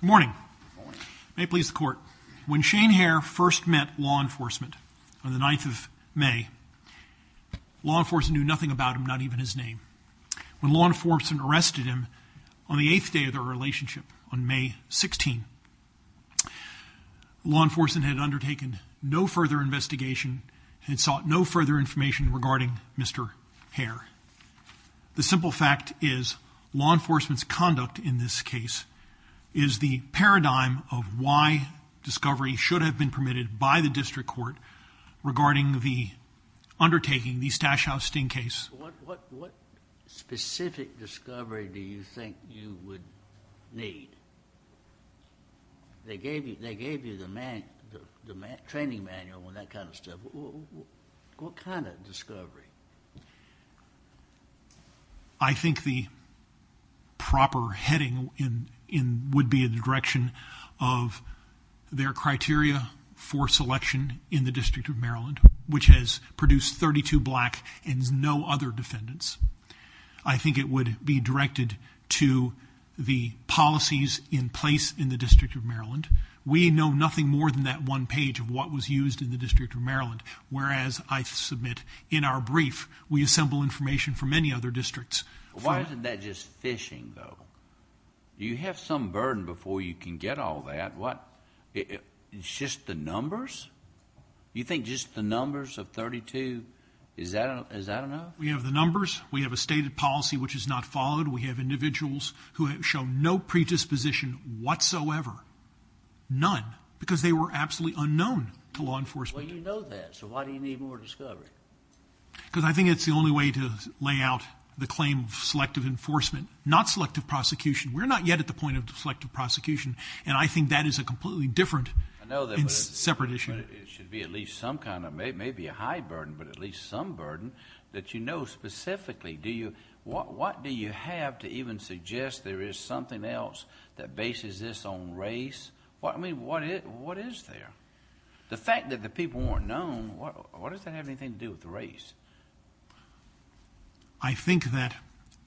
Morning. May it please the court. When Shane Hare first met law enforcement on the 9th of May, law enforcement knew nothing about him, not even his name. When law enforcement arrested him on the eighth day of their relationship, on May 16, law enforcement had undertaken no further investigation and sought no further information regarding Mr. Hare. The simple fact is law enforcement's conduct in this case is the paradigm of why discovery should have been permitted by the district court regarding the undertaking the Stash House sting case. What specific discovery do you think you would need? They gave you the training manual and that kind of stuff. What kind of discovery? I think the proper heading would be in the direction of their criteria for selection in the District of Maryland, which has produced 32 black and no other defendants. I think it would be directed to the policies in place in the District of Maryland. We know nothing more than that one page of what was used in the District of Maryland, whereas I submit in our brief we assemble information from many other districts. Why isn't that just phishing though? Do you have some burden before you can get all that? It's just the numbers? You think just the numbers of 32, is that enough? We have the numbers. We have a stated policy which is not followed. We have individuals who have shown no predisposition whatsoever, none, because they were absolutely unknown to law enforcement. Well, you know that, so why do you need more discovery? Because I think it's the only way to lay out the claim of selective enforcement, not selective prosecution. We're not yet at the point of selective prosecution, and I think that is a completely different and separate issue. It should be at least some kind of, maybe a high burden, but at least some burden that you know specifically. What do you have to even suggest there is something else that bases this on race? I mean, what is there? The fact that the people weren't known, what does that have anything to do with the race? I think that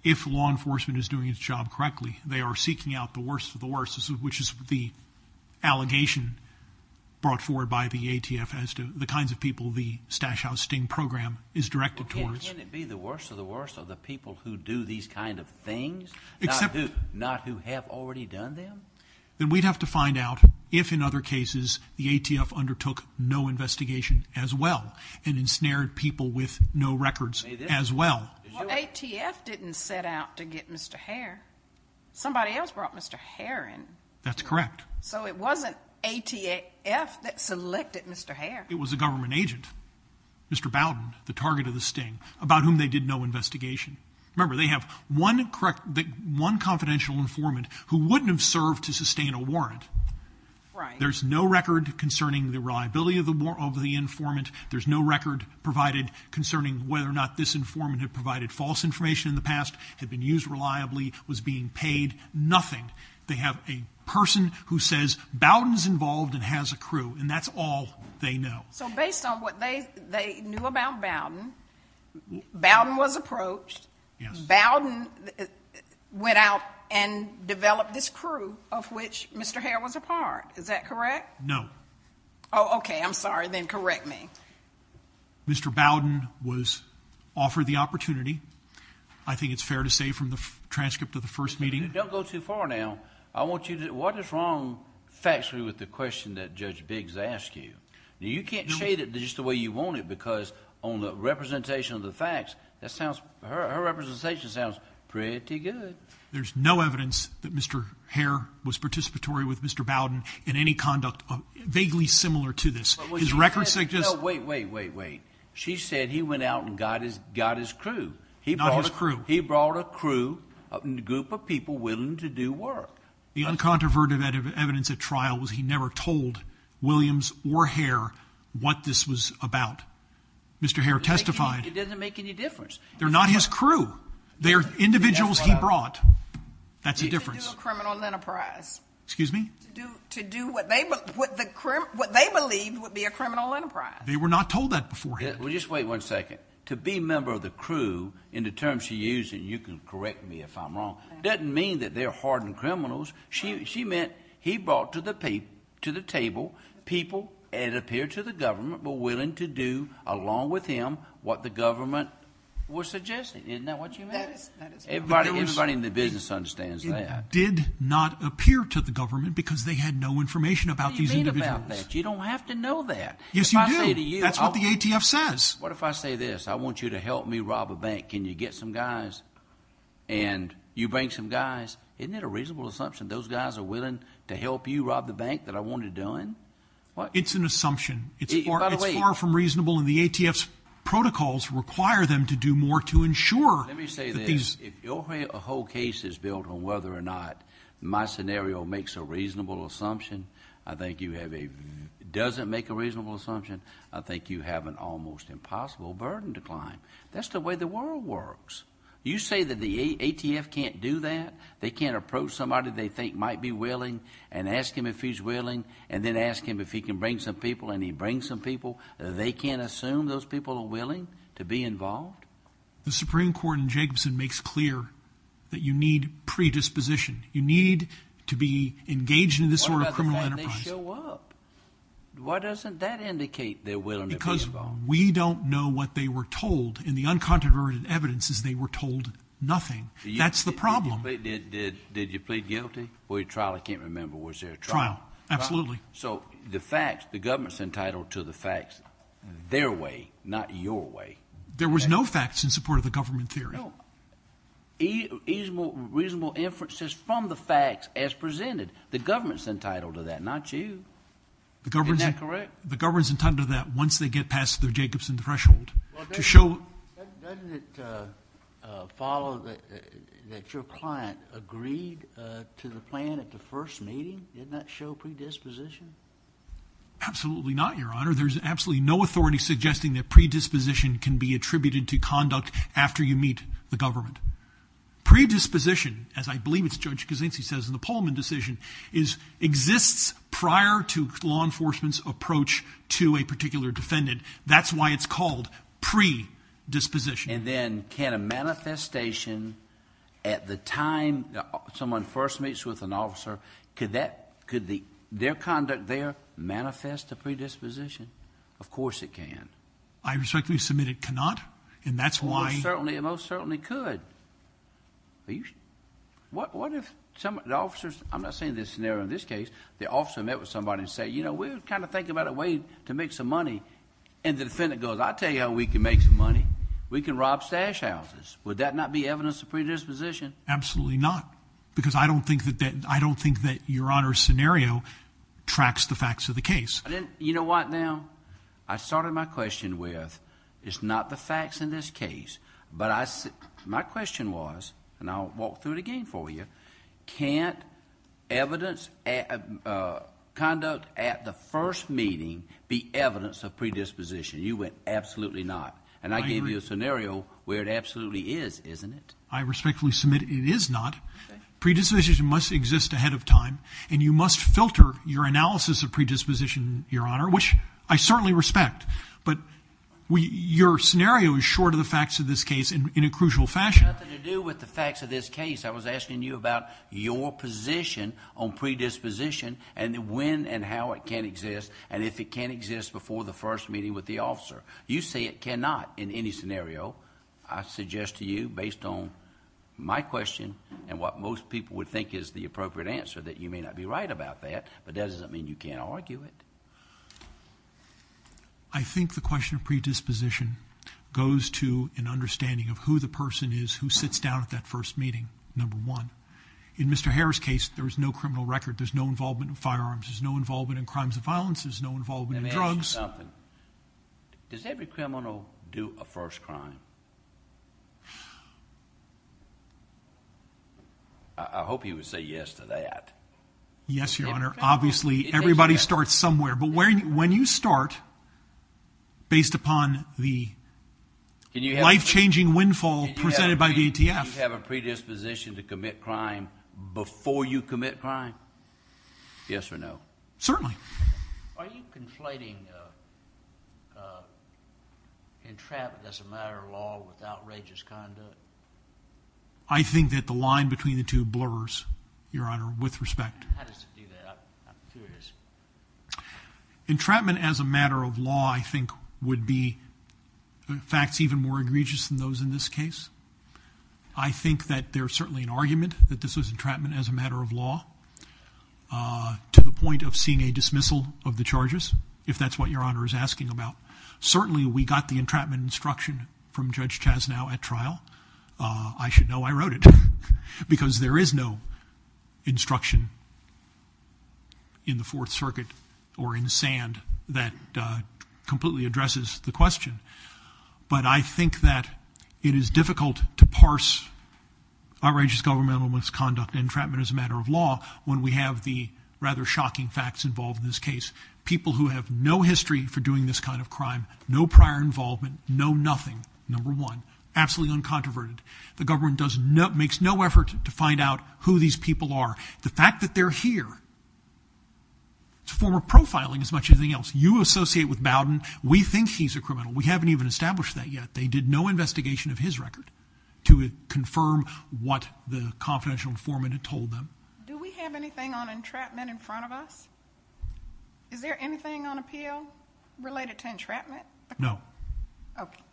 if law enforcement is doing its job correctly, they are seeking out the worst of the worst, which is the allegation brought forward by the ATF as to the kinds of people the Stash House Sting program is directed towards. Can't it be the worst of the worst are the people who do these kind of things, not who have already done them? Then we'd have to find out if, in other cases, the ATF undertook no investigation as well and ensnared people with no records as well. ATF didn't set out to get Mr. Hare. Somebody else brought Mr. Hare in. That's correct. So it wasn't ATF that selected Mr. Hare. It was a government agent, Mr. Bowden, the target of the Sting, about whom they did no investigation. Remember, they have one confidential informant who wouldn't have served to sustain a warrant. There's no record concerning the reliability of the informant. There's no record provided concerning whether or not this informant had provided false information in the past, had been used reliably, was being paid, nothing. They have a person who says Bowden's involved and has a crew, and that's all they know. So based on what they knew about Bowden, Bowden was approached, Bowden went out and developed this crew of which Mr. Hare was a part. Is that correct? No. Oh, okay. I'm sorry. Then correct me. Mr. Bowden was offered the opportunity. I think it's fair to say from the transcript of the first meeting. Don't go too far now. What is wrong factually with the question that Judge Biggs asked you? You can't shade it just the way you want it because on the representation of the facts, her representation sounds pretty good. There's no evidence that Mr. Hare was participatory with Mr. Bowden in any conduct vaguely similar to this. Wait, wait, wait, wait. She said he went out and got his crew. Not his crew. He brought a crew, a group of people willing to do work. The uncontroverted evidence at trial was he never told Williams or Hare what this was about. Mr. Hare testified. It doesn't make any difference. They're not his crew. They're individuals he brought. That's the difference. To do a criminal enterprise. Excuse me? To do what they believed would be a criminal enterprise. They were not told that beforehand. Well, just wait one second. To be a member of the crew in the terms she used, and you can correct me if I'm wrong, doesn't mean that they're hardened criminals. She meant he brought to the table people that appeared to the government but were willing to do along with him what the government was suggesting. Isn't that what you meant? That is correct. Everybody in the business understands that. It did not appear to the government because they had no information about these individuals. What do you mean about that? You don't have to know that. Yes, you do. That's what the ATF says. What if I say this? I want you to help me rob a bank. Can you get some guys and you bring some guys? Isn't that a reasonable assumption? Those guys are willing to help you rob the bank that I want to do it? It's an assumption. It's far from reasonable, and the ATF's protocols require them to do more to ensure that these – Let me say this. If your whole case is built on whether or not my scenario makes a reasonable assumption, I think you have a – I think you have an almost impossible burden to climb. That's the way the world works. You say that the ATF can't do that? They can't approach somebody they think might be willing and ask him if he's willing and then ask him if he can bring some people and he brings some people. They can't assume those people are willing to be involved? The Supreme Court in Jacobson makes clear that you need predisposition. You need to be engaged in this sort of criminal enterprise. What about the time they show up? Why doesn't that indicate they're willing to be involved? Because we don't know what they were told, and the uncontroverted evidence is they were told nothing. That's the problem. Did you plead guilty before your trial? I can't remember. Was there a trial? Absolutely. So the facts, the government's entitled to the facts their way, not your way. There was no facts in support of the government theory. No reasonable inferences from the facts as presented. The government's entitled to that, not you. Isn't that correct? The government's entitled to that once they get past their Jacobson threshold. Doesn't it follow that your client agreed to the plan at the first meeting? Didn't that show predisposition? Absolutely not, Your Honor. There's absolutely no authority suggesting that predisposition can be attributed to conduct after you meet the government. Predisposition, as I believe it's Judge Kuczynski says in the Pullman decision, exists prior to law enforcement's approach to a particular defendant. That's why it's called predisposition. Then, can a manifestation at the time someone first meets with an officer, could their conduct there manifest a predisposition? Of course it can. I respectfully submit it cannot, and that's why... It most certainly could. What if the officers... I'm not saying this scenario in this case. The officer met with somebody and said, you know, we're kind of thinking about a way to make some money, and the defendant goes, I'll tell you how we can make some money. We can rob stash houses. Would that not be evidence of predisposition? Absolutely not, because I don't think that Your Honor's scenario tracks the facts of the case. You know what, now? I started my question with, it's not the facts in this case, but my question was, and I'll walk through it again for you, can't evidence... conduct at the first meeting be evidence of predisposition? You went, absolutely not. I agree. And I gave you a scenario where it absolutely is, isn't it? I respectfully submit it is not. Predisposition must exist ahead of time, and you must filter your analysis of predisposition, Your Honor, which I certainly respect, but your scenario is short of the facts of this case in a crucial fashion. It had nothing to do with the facts of this case. I was asking you about your position on predisposition and when and how it can exist, and if it can exist before the first meeting with the officer. You say it cannot in any scenario. I suggest to you, based on my question and what most people would think is the appropriate answer, that you may not be right about that, but that doesn't mean you can't argue it. I think the question of predisposition goes to an understanding of who the person is who sits down at that first meeting, number one. In Mr. Harris' case, there is no criminal record. There's no involvement in firearms. There's no involvement in crimes of violence. There's no involvement in drugs. Does every criminal do a first crime? I hope he would say yes to that. Yes, Your Honor. Obviously, everybody starts somewhere, but when you start, based upon the life-changing windfall presented by the ATF. Can you have a predisposition to commit crime before you commit crime? Yes or no? Certainly. Are you conflating entrapment as a matter of law with outrageous conduct? I think that the line between the two blurs, Your Honor, with respect. How does it do that? I'm curious. Entrapment as a matter of law, I think, would be facts even more egregious than those in this case. I think that there's certainly an argument that this was entrapment as a matter of law to the point of seeing a dismissal of the charges, if that's what Your Honor is asking about. Certainly, we got the entrapment instruction from Judge Chasnow at trial. I should know I wrote it because there is no instruction in the Fourth Circuit or in Sand that completely addresses the question. But I think that it is difficult to parse outrageous governmental misconduct and entrapment as a matter of law when we have the rather shocking facts involved in this case. People who have no history for doing this kind of crime, no prior involvement, know nothing, number one, absolutely uncontroverted. The government makes no effort to find out who these people are. The fact that they're here is a form of profiling as much as anything else. You associate with Bowden. We think he's a criminal. We haven't even established that yet. They did no investigation of his record to confirm what the confidential informant had told them. Do we have anything on entrapment in front of us? Is there anything on appeal related to entrapment? No.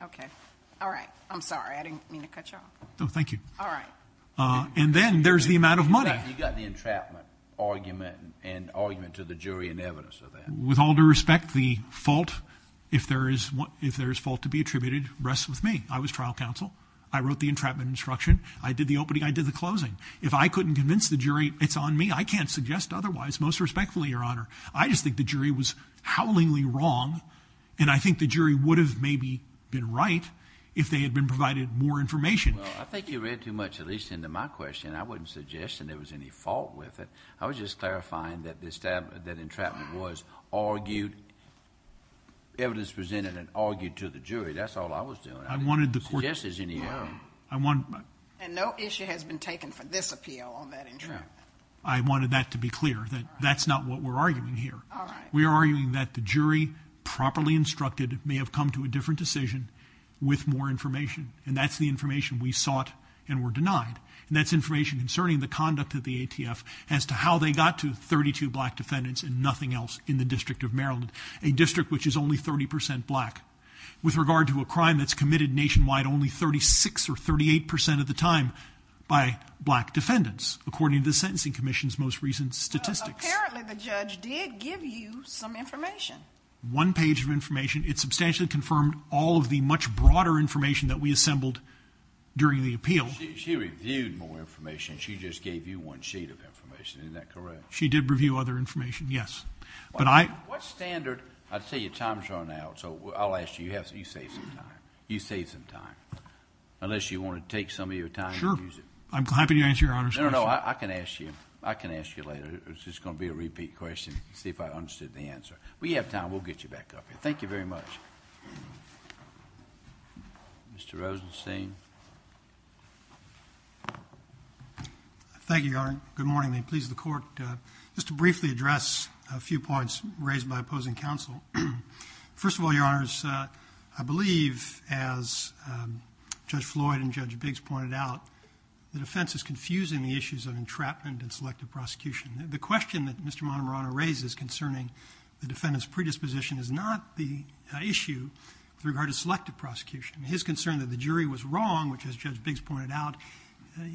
Okay. All right. I'm sorry. I didn't mean to cut you off. No, thank you. All right. And then there's the amount of money. You got the entrapment argument and argument to the jury in evidence of that. With all due respect, the fault, if there is fault to be attributed, rests with me. I was trial counsel. I wrote the entrapment instruction. I did the opening. I did the closing. If I couldn't convince the jury it's on me, I can't suggest otherwise, most respectfully, Your Honor. I just think the jury was howlingly wrong, and I think the jury would have maybe been right if they had been provided more information. Well, I think you read too much, at least into my question. I wouldn't suggest that there was any fault with it. I was just clarifying that entrapment was argued, evidence presented and argued to the jury. That's all I was doing. I didn't suggest there's any argument. And no issue has been taken for this appeal on that entrapment. I wanted that to be clear, that that's not what we're arguing here. All right. We are arguing that the jury, properly instructed, may have come to a different decision with more information, and that's the information we sought and were denied, and that's information concerning the conduct of the ATF as to how they got to 32 black defendants and nothing else in the District of Maryland, a district which is only 30 percent black. With regard to a crime that's committed nationwide only 36 or 38 percent of the time by black defendants, according to the Sentencing Commission's most recent statistics. Apparently the judge did give you some information. One page of information. It substantially confirmed all of the much broader information that we assembled during the appeal. She reviewed more information. She just gave you one sheet of information. Isn't that correct? She did review other information, yes. But I... What standard? I'd say your time's run out, so I'll ask you. You saved some time. You saved some time. Unless you want to take some of your time and use it. Sure. I'm happy to answer Your Honor's question. No, no, no. I can ask you. I can ask you later. It's just going to be a repeat question, see if I understood the answer. We have time. We'll get you back up here. Thank you very much. Mr. Rosenstein. Thank you, Your Honor. Good morning. May it please the Court. Just to briefly address a few points raised by opposing counsel. First of all, Your Honors, I believe, as Judge Floyd and Judge Biggs pointed out, the defense is confusing the issues of entrapment and selective prosecution. The question that Mr. Montemarano raises concerning the defendant's predisposition is not the issue with regard to selective prosecution. His concern that the jury was wrong, which, as Judge Biggs pointed out,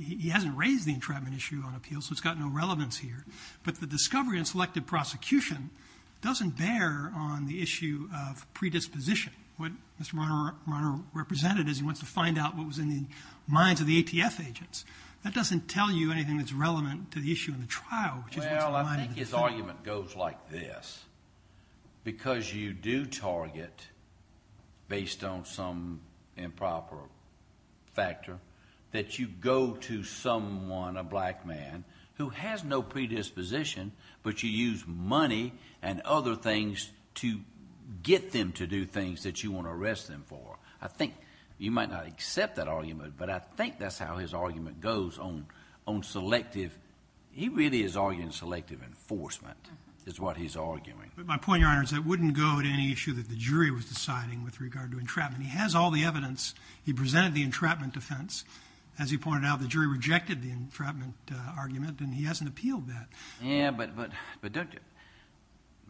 he hasn't raised the entrapment issue on appeal, so it's got no relevance here. But the discovery in selective prosecution doesn't bear on the issue of predisposition. What Mr. Montemarano represented is he wants to find out what was in the minds of the ATF agents. That doesn't tell you anything that's relevant to the issue in the trial. Well, I think his argument goes like this. Because you do target, based on some improper factor, that you go to someone, a black man, who has no predisposition, but you use money and other things to get them to do things that you want to arrest them for. I think you might not accept that argument, but I think that's how his argument goes on selective. He really is arguing selective enforcement is what he's arguing. But my point, Your Honor, is that wouldn't go to any issue that the jury was deciding with regard to entrapment. He has all the evidence. He presented the entrapment defense. As he pointed out, the jury rejected the entrapment argument, and he hasn't appealed that. Yeah, but,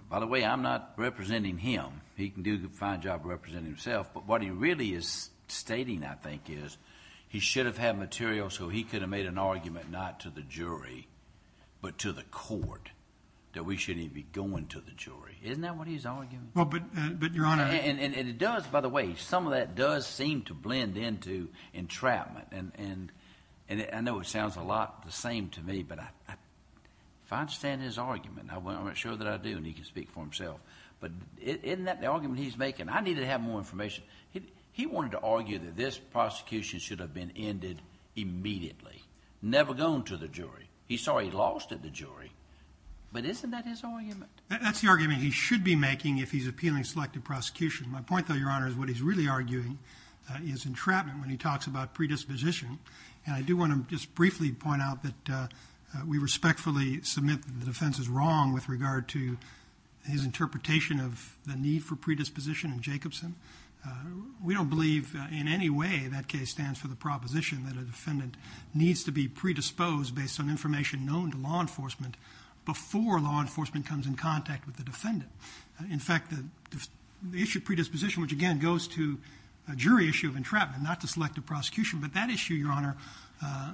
by the way, I'm not representing him. He can do a fine job of representing himself, but what he really is stating, I think, is he should have had material so he could have made an argument not to the jury, but to the court, that we shouldn't even be going to the jury. Isn't that what he's arguing? Well, but, Your Honor. And it does, by the way, some of that does seem to blend into entrapment. And I know it sounds a lot the same to me, but if I understand his argument, I'm not sure that I do, and he can speak for himself. But isn't that the argument he's making? I need to have more information. He wanted to argue that this prosecution should have been ended immediately, never gone to the jury. He saw he lost at the jury, but isn't that his argument? That's the argument he should be making if he's appealing selective prosecution. My point, though, Your Honor, is what he's really arguing is entrapment when he talks about predisposition. And I do want to just briefly point out that we respectfully submit that the defense is wrong with regard to his interpretation of the need for predisposition in Jacobson. We don't believe in any way that case stands for the proposition that a defendant needs to be predisposed based on information known to law enforcement before law enforcement comes in contact with the defendant. In fact, the issue of predisposition, which, again, goes to a jury issue of entrapment, not to selective prosecution, but that issue, Your Honor,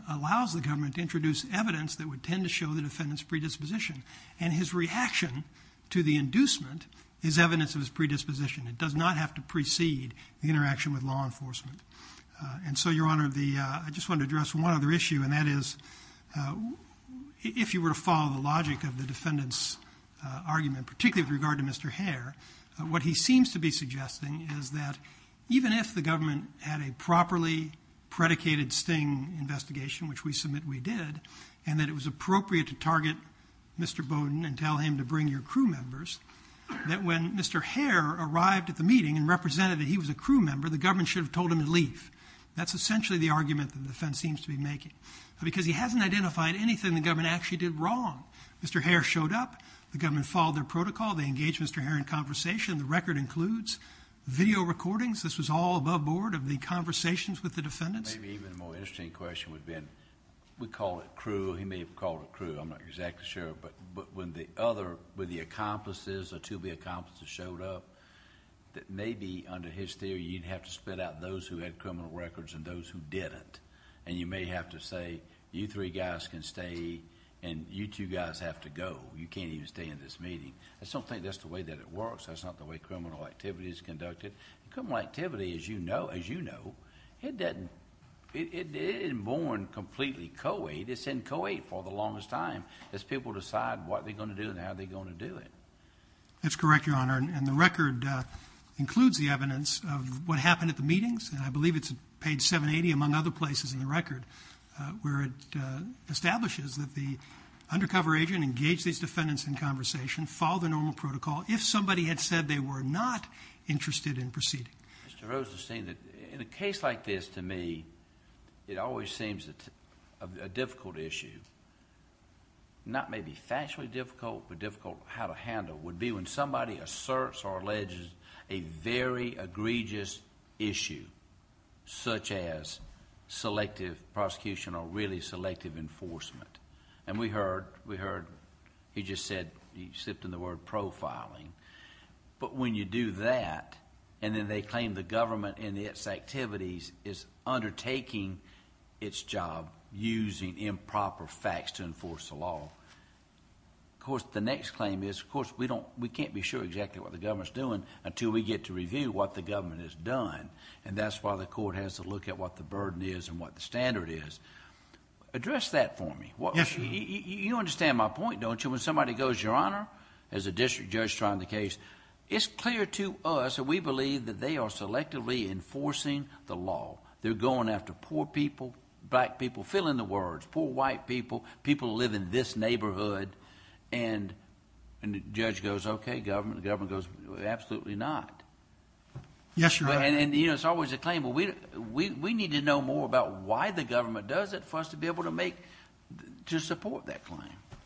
allows the government to introduce evidence that would tend to show the defendant's predisposition. And his reaction to the inducement is evidence of his predisposition. It does not have to precede the interaction with law enforcement. And so, Your Honor, I just want to address one other issue, and that is if you were to follow the logic of the defendant's argument, particularly with regard to Mr. Hare, what he seems to be suggesting is that even if the government had a properly predicated sting investigation, which we submit we did, and that it was appropriate to target Mr. Bowden and tell him to bring your crew members, that when Mr. Hare arrived at the meeting and represented that he was a crew member, the government should have told him to leave. That's essentially the argument the defense seems to be making because he hasn't identified anything the government actually did wrong. Mr. Hare showed up. The government followed their protocol. They engaged Mr. Hare in conversation. The record includes video recordings. This was all above board of the conversations with the defendants. Maybe even a more interesting question would have been, we call it crew. He may have called it crew. I'm not exactly sure. But when the accomplices or two of the accomplices showed up, maybe under his theory you'd have to spit out those who had criminal records and those who didn't. And you may have to say, you three guys can stay and you two guys have to go. You can't even stay in this meeting. I just don't think that's the way that it works. That's not the way criminal activity is conducted. Criminal activity, as you know, it isn't born completely co-aid. It's in co-aid for the longest time as people decide what they're going to do and how they're going to do it. That's correct, Your Honor. And the record includes the evidence of what happened at the meetings. And I believe it's page 780, among other places in the record, where it establishes that the undercover agent engaged these defendants in conversation, followed the normal protocol, if somebody had said they were not interested in proceeding. Mr. Rosenstein, in a case like this, to me, it always seems a difficult issue, not maybe factually difficult, but difficult how to handle, would be when somebody asserts or alleges a very egregious issue, such as selective prosecution or really selective enforcement. And we heard, we heard, he just said, he slipped in the word profiling. But when you do that, and then they claim the government and its activities is undertaking its job using improper facts to enforce the law. Of course, the next claim is, of course, we can't be sure exactly what the government's doing until we get to review what the government has done. And that's why the court has to look at what the burden is and what the standard is. Address that for me. Yes, Your Honor. You understand my point, don't you? When somebody goes, Your Honor, as a district judge trying the case, it's clear to us that we believe that they are selectively enforcing the law. They're going after poor people, black people, fill in the words, poor white people, people who live in this neighborhood. And the judge goes, okay, government. The government goes, absolutely not. Yes, Your Honor. And, you know, it's always a claim, but we need to know more about why the government does it for us to be able to support that claim.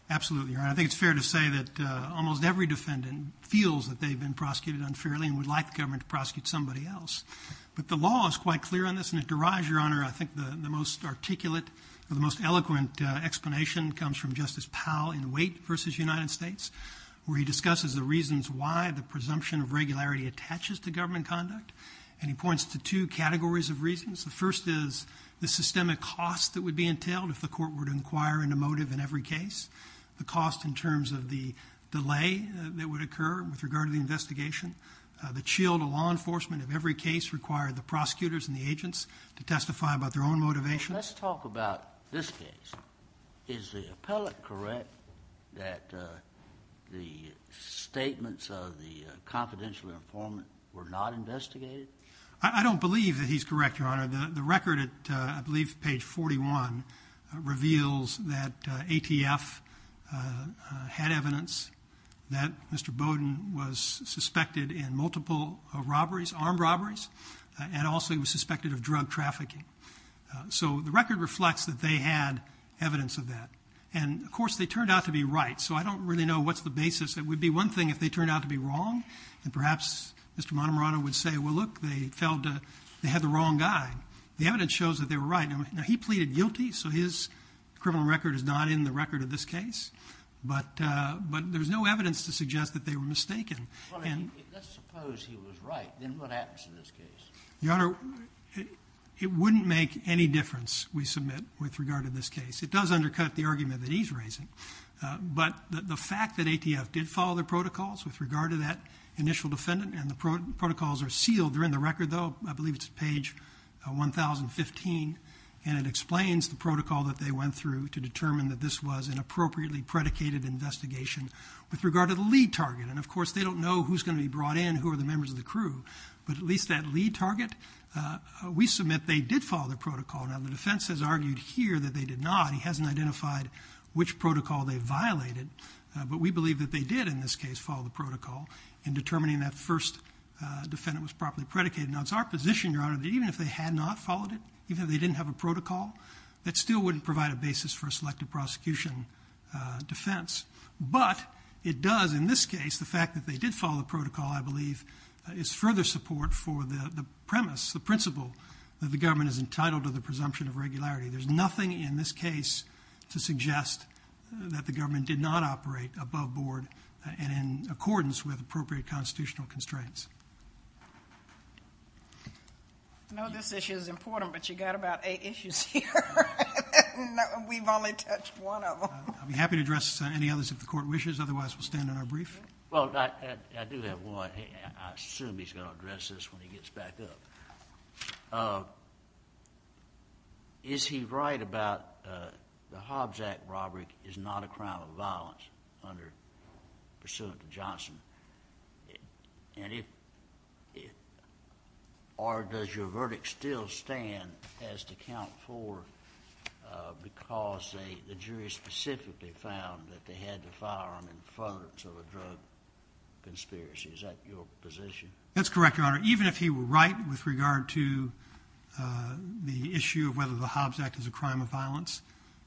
Absolutely, Your Honor. I think it's fair to say that almost every defendant feels that they've been prosecuted unfairly and would like the government to prosecute somebody else. But the law is quite clear on this, and it derives, Your Honor, I think the most articulate or the most eloquent explanation comes from Justice Powell in Waite v. United States, where he discusses the reasons why the presumption of regularity attaches to government conduct, and he points to two categories of reasons. The first is the systemic cost that would be entailed if the court were to inquire into motive in every case, the cost in terms of the delay that would occur with regard to the investigation, the chill to law enforcement of every case required the prosecutors and the agents to testify about their own motivation. Let's talk about this case. Is the appellate correct that the statements of the confidential informant were not investigated? I don't believe that he's correct, Your Honor. The record at, I believe, page 41 reveals that ATF had evidence that Mr. Bowden was suspected in multiple robberies, armed robberies, and also he was suspected of drug trafficking. So the record reflects that they had evidence of that. And, of course, they turned out to be right, so I don't really know what's the basis. It would be one thing if they turned out to be wrong, and perhaps Mr. Montemarano would say, well, look, they had the wrong guy. The evidence shows that they were right. Now, he pleaded guilty, so his criminal record is not in the record of this case, but there's no evidence to suggest that they were mistaken. Well, let's suppose he was right. Then what happens in this case? Your Honor, it wouldn't make any difference, we submit, with regard to this case. It does undercut the argument that he's raising, but the fact that ATF did follow the protocols with regard to that initial defendant and the protocols are sealed, they're in the record, though, I believe it's page 1015, and it explains the protocol that they went through to determine that this was an appropriately predicated investigation with regard to the lead target. And, of course, they don't know who's going to be brought in, who are the members of the crew, but at least that lead target, we submit they did follow the protocol. Now, the defense has argued here that they did not. He hasn't identified which protocol they violated, but we believe that they did in this case follow the protocol in determining that first defendant was properly predicated. Now, it's our position, Your Honor, that even if they had not followed it, even if they didn't have a protocol, that still wouldn't provide a basis for a selective prosecution defense. But it does in this case, the fact that they did follow the protocol, I believe, is further support for the premise, the principle, that the government is entitled to the presumption of regularity. There's nothing in this case to suggest that the government did not operate above board and in accordance with appropriate constitutional constraints. I know this issue is important, but you've got about eight issues here, and we've only touched one of them. I'd be happy to address any others if the Court wishes. Otherwise, we'll stand on our brief. Well, I do have one. I assume he's going to address this when he gets back up. Is he right about the Hobbs Act robbery is not a crime of violence under pursuant to Johnson? Or does your verdict still stand as to count for because the jury specifically found that they had the firearm in front of it, so a drug conspiracy? Is that your position? That's correct, Your Honor. Even if he were right with regard to the issue of whether the Hobbs Act is a crime of violence,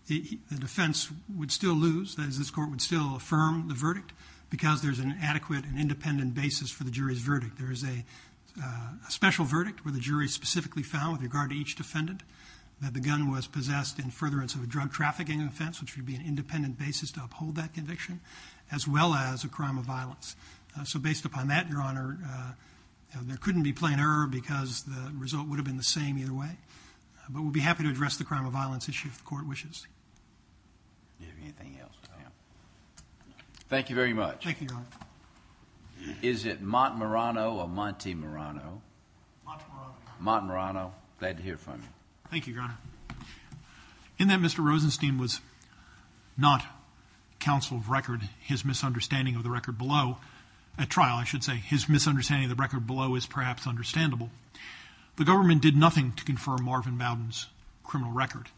the defense would still lose, that is, this Court would still affirm the verdict because there's an adequate and independent basis for the jury's verdict. There is a special verdict where the jury specifically found, with regard to each defendant, that the gun was possessed in furtherance of a drug trafficking offense, which would be an independent basis to uphold that conviction, as well as a crime of violence. So based upon that, Your Honor, there couldn't be plain error because the result would have been the same either way. But we'll be happy to address the crime of violence issue if the Court wishes. Do you have anything else? Thank you very much. Thank you, Your Honor. Is it Montmorano or Monte Morano? Montmorano. Montmorano. Glad to hear from you. Thank you, Your Honor. In that Mr. Rosenstein was not counsel of record, his misunderstanding of the record below at trial, I should say, his misunderstanding of the record below is perhaps understandable, the government did nothing to confirm Marvin Bowden's criminal record.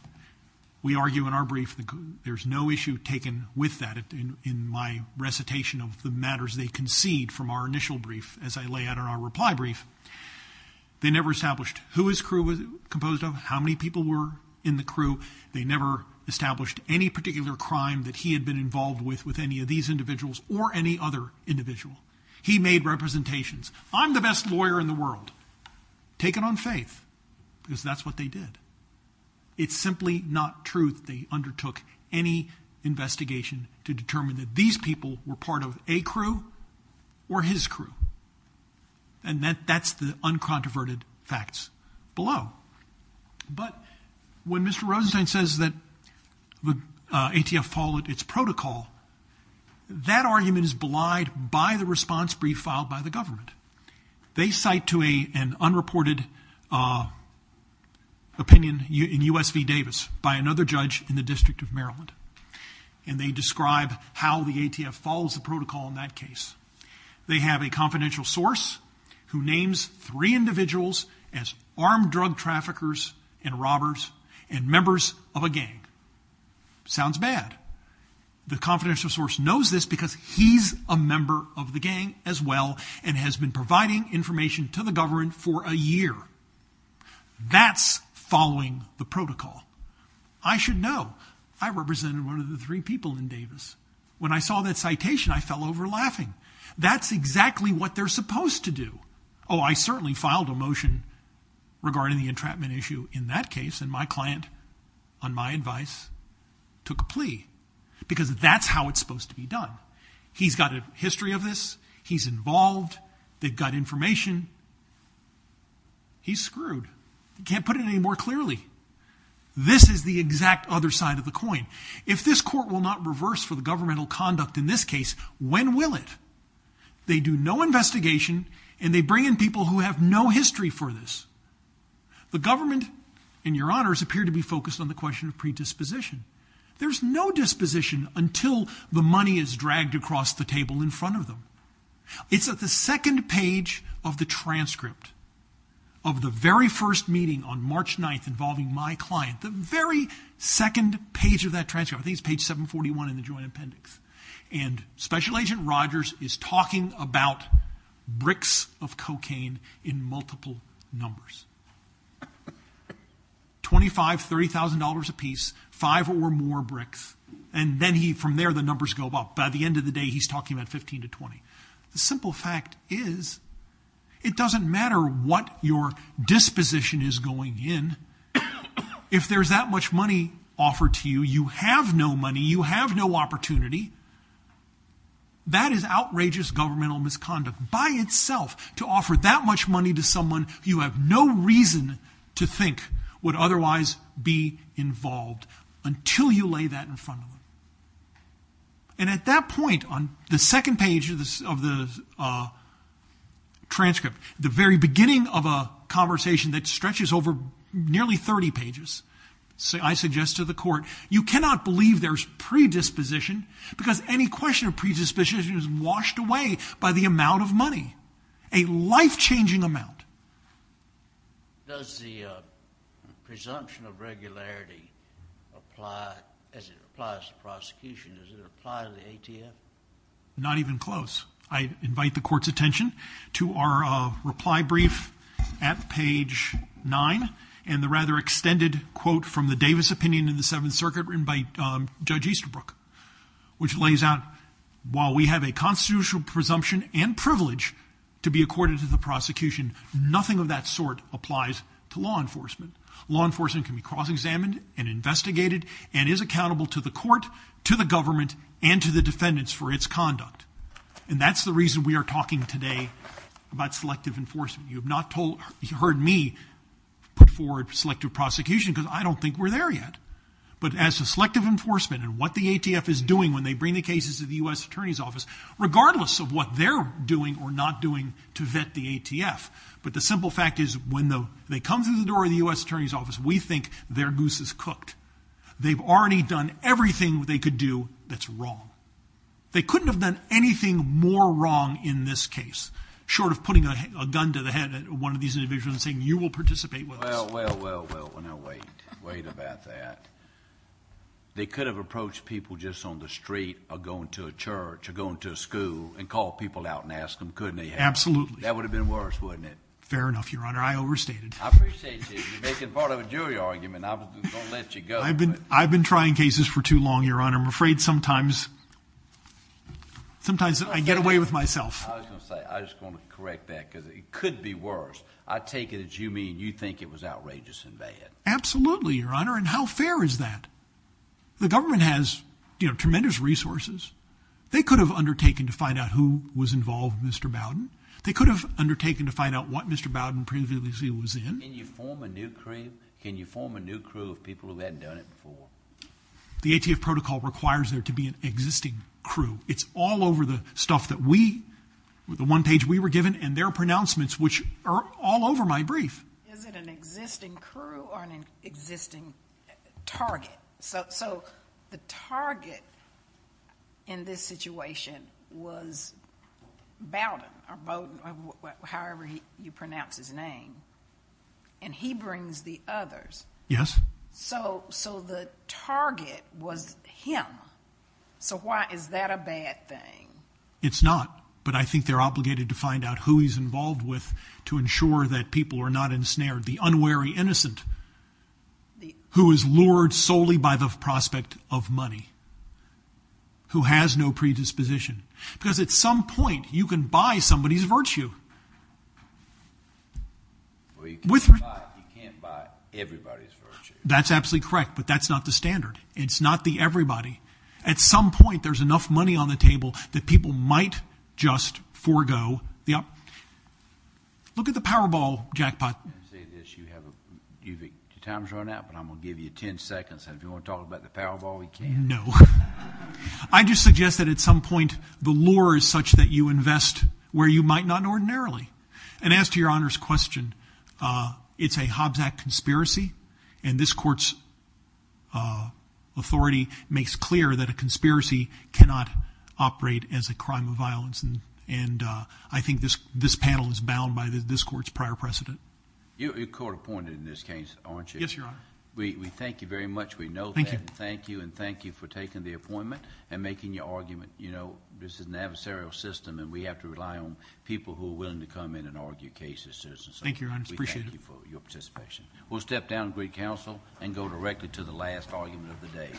We argue in our brief that there's no issue taken with that. In my recitation of the matters they concede from our initial brief, as I lay out in our reply brief, they never established who his crew was composed of, how many people were in the crew. They never established any particular crime that he had been involved with with any of these individuals or any other individual. He made representations. I'm the best lawyer in the world. Take it on faith because that's what they did. It's simply not truth they undertook any investigation to determine that these people were part of a crew or his crew. And that's the uncontroverted facts below. But when Mr. Rosenstein says that the ATF followed its protocol, that argument is belied by the response brief filed by the government. They cite to an unreported opinion in U.S. v. Davis by another judge in the District of Maryland, and they describe how the ATF follows the protocol in that case. They have a confidential source who names three individuals as armed drug traffickers and robbers and members of a gang. Sounds bad. The confidential source knows this because he's a member of the gang as well and has been providing information to the government for a year. That's following the protocol. I represented one of the three people in Davis. When I saw that citation, I fell over laughing. That's exactly what they're supposed to do. Oh, I certainly filed a motion regarding the entrapment issue in that case, and my client, on my advice, took a plea because that's how it's supposed to be done. He's got a history of this. He's involved. They've got information. He's screwed. You can't put it any more clearly. This is the exact other side of the coin. If this court will not reverse for the governmental conduct in this case, when will it? They do no investigation, and they bring in people who have no history for this. The government, in your honors, appear to be focused on the question of predisposition. There's no disposition until the money is dragged across the table in front of them. It's at the second page of the transcript of the very first meeting on March 9th involving my client, the very second page of that transcript. I think it's page 741 in the Joint Appendix. And Special Agent Rogers is talking about bricks of cocaine in multiple numbers, $25,000, $30,000 a piece, five or more bricks, and then from there the numbers go up. By the end of the day, he's talking about 15 to 20. The simple fact is it doesn't matter what your disposition is going in if there's that much money offered to you. You have no money. You have no opportunity. That is outrageous governmental misconduct by itself to offer that much money to someone you have no reason to think would otherwise be involved until you lay that in front of them. And at that point on the second page of the transcript, the very beginning of a conversation that stretches over nearly 30 pages, I suggest to the court, you cannot believe there's predisposition because any question of predisposition is washed away by the amount of money, a life-changing amount. Does the presumption of regularity apply as it applies to prosecution? Does it apply to the ATF? Not even close. I invite the court's attention to our reply brief at page 9 and the rather extended quote from the Davis opinion in the Seventh Circuit written by Judge Easterbrook, which lays out, while we have a constitutional presumption and privilege to be accorded to the prosecution, nothing of that sort applies to law enforcement. Law enforcement can be cross-examined and investigated and is accountable to the court, to the government, and to the defendants for its conduct. And that's the reason we are talking today about selective enforcement. You have not heard me put forward selective prosecution because I don't think we're there yet. But as to selective enforcement and what the ATF is doing when they bring the cases to the U.S. Attorney's Office, regardless of what they're doing or not doing to vet the ATF, but the simple fact is when they come through the door of the U.S. Attorney's Office, we think their goose is cooked. They've already done everything they could do that's wrong. They couldn't have done anything more wrong in this case, short of putting a gun to the head of one of these individuals and saying, you will participate with us. Well, well, well, well, now wait. Wait about that. They could have approached people just on the street or going to a church or going to a school and called people out and asked them, couldn't they have? Absolutely. That would have been worse, wouldn't it? Fair enough, Your Honor. I overstated. I appreciate you. You're making part of a jury argument. I've been trying cases for too long, Your Honor. I'm afraid sometimes I get away with myself. I was going to say, I just want to correct that because it could be worse. I take it that you mean you think it was outrageous and bad. Absolutely, Your Honor, and how fair is that? The government has tremendous resources. They could have undertaken to find out who was involved with Mr. Bowden. They could have undertaken to find out what Mr. Bowden previously was in. Can you form a new crew? Can you form a new crew of people who haven't done it before? The ATF protocol requires there to be an existing crew. It's all over the stuff that we, the one page we were given, and their pronouncements, which are all over my brief. Is it an existing crew or an existing target? So the target in this situation was Bowden, or however you pronounce his name, and he brings the others. Yes. So the target was him. So why is that a bad thing? It's not, but I think they're obligated to find out who he's involved with to ensure that people are not ensnared. The unwary innocent who is lured solely by the prospect of money, who has no predisposition. Because at some point you can buy somebody's virtue. Well, you can't buy everybody's virtue. That's absolutely correct, but that's not the standard. It's not the everybody. At some point there's enough money on the table that people might just forego. Look at the Powerball jackpot. I'm going to say this. Your time has run out, but I'm going to give you ten seconds, and if you want to talk about the Powerball, you can. No. I just suggest that at some point the lure is such that you invest where you might not ordinarily. And as to Your Honor's question, it's a Hobbs Act conspiracy, as a crime of violence. I think this panel is bound by this court's prior precedent. You're court appointed in this case, aren't you? Yes, Your Honor. We thank you very much. We know that. Thank you. Thank you, and thank you for taking the appointment and making your argument. This is an adversarial system, and we have to rely on people who are willing to come in and argue cases. Thank you, Your Honor. We appreciate it. We thank you for your participation. We'll step down to great counsel and go directly to the last argument of the day. Thank you.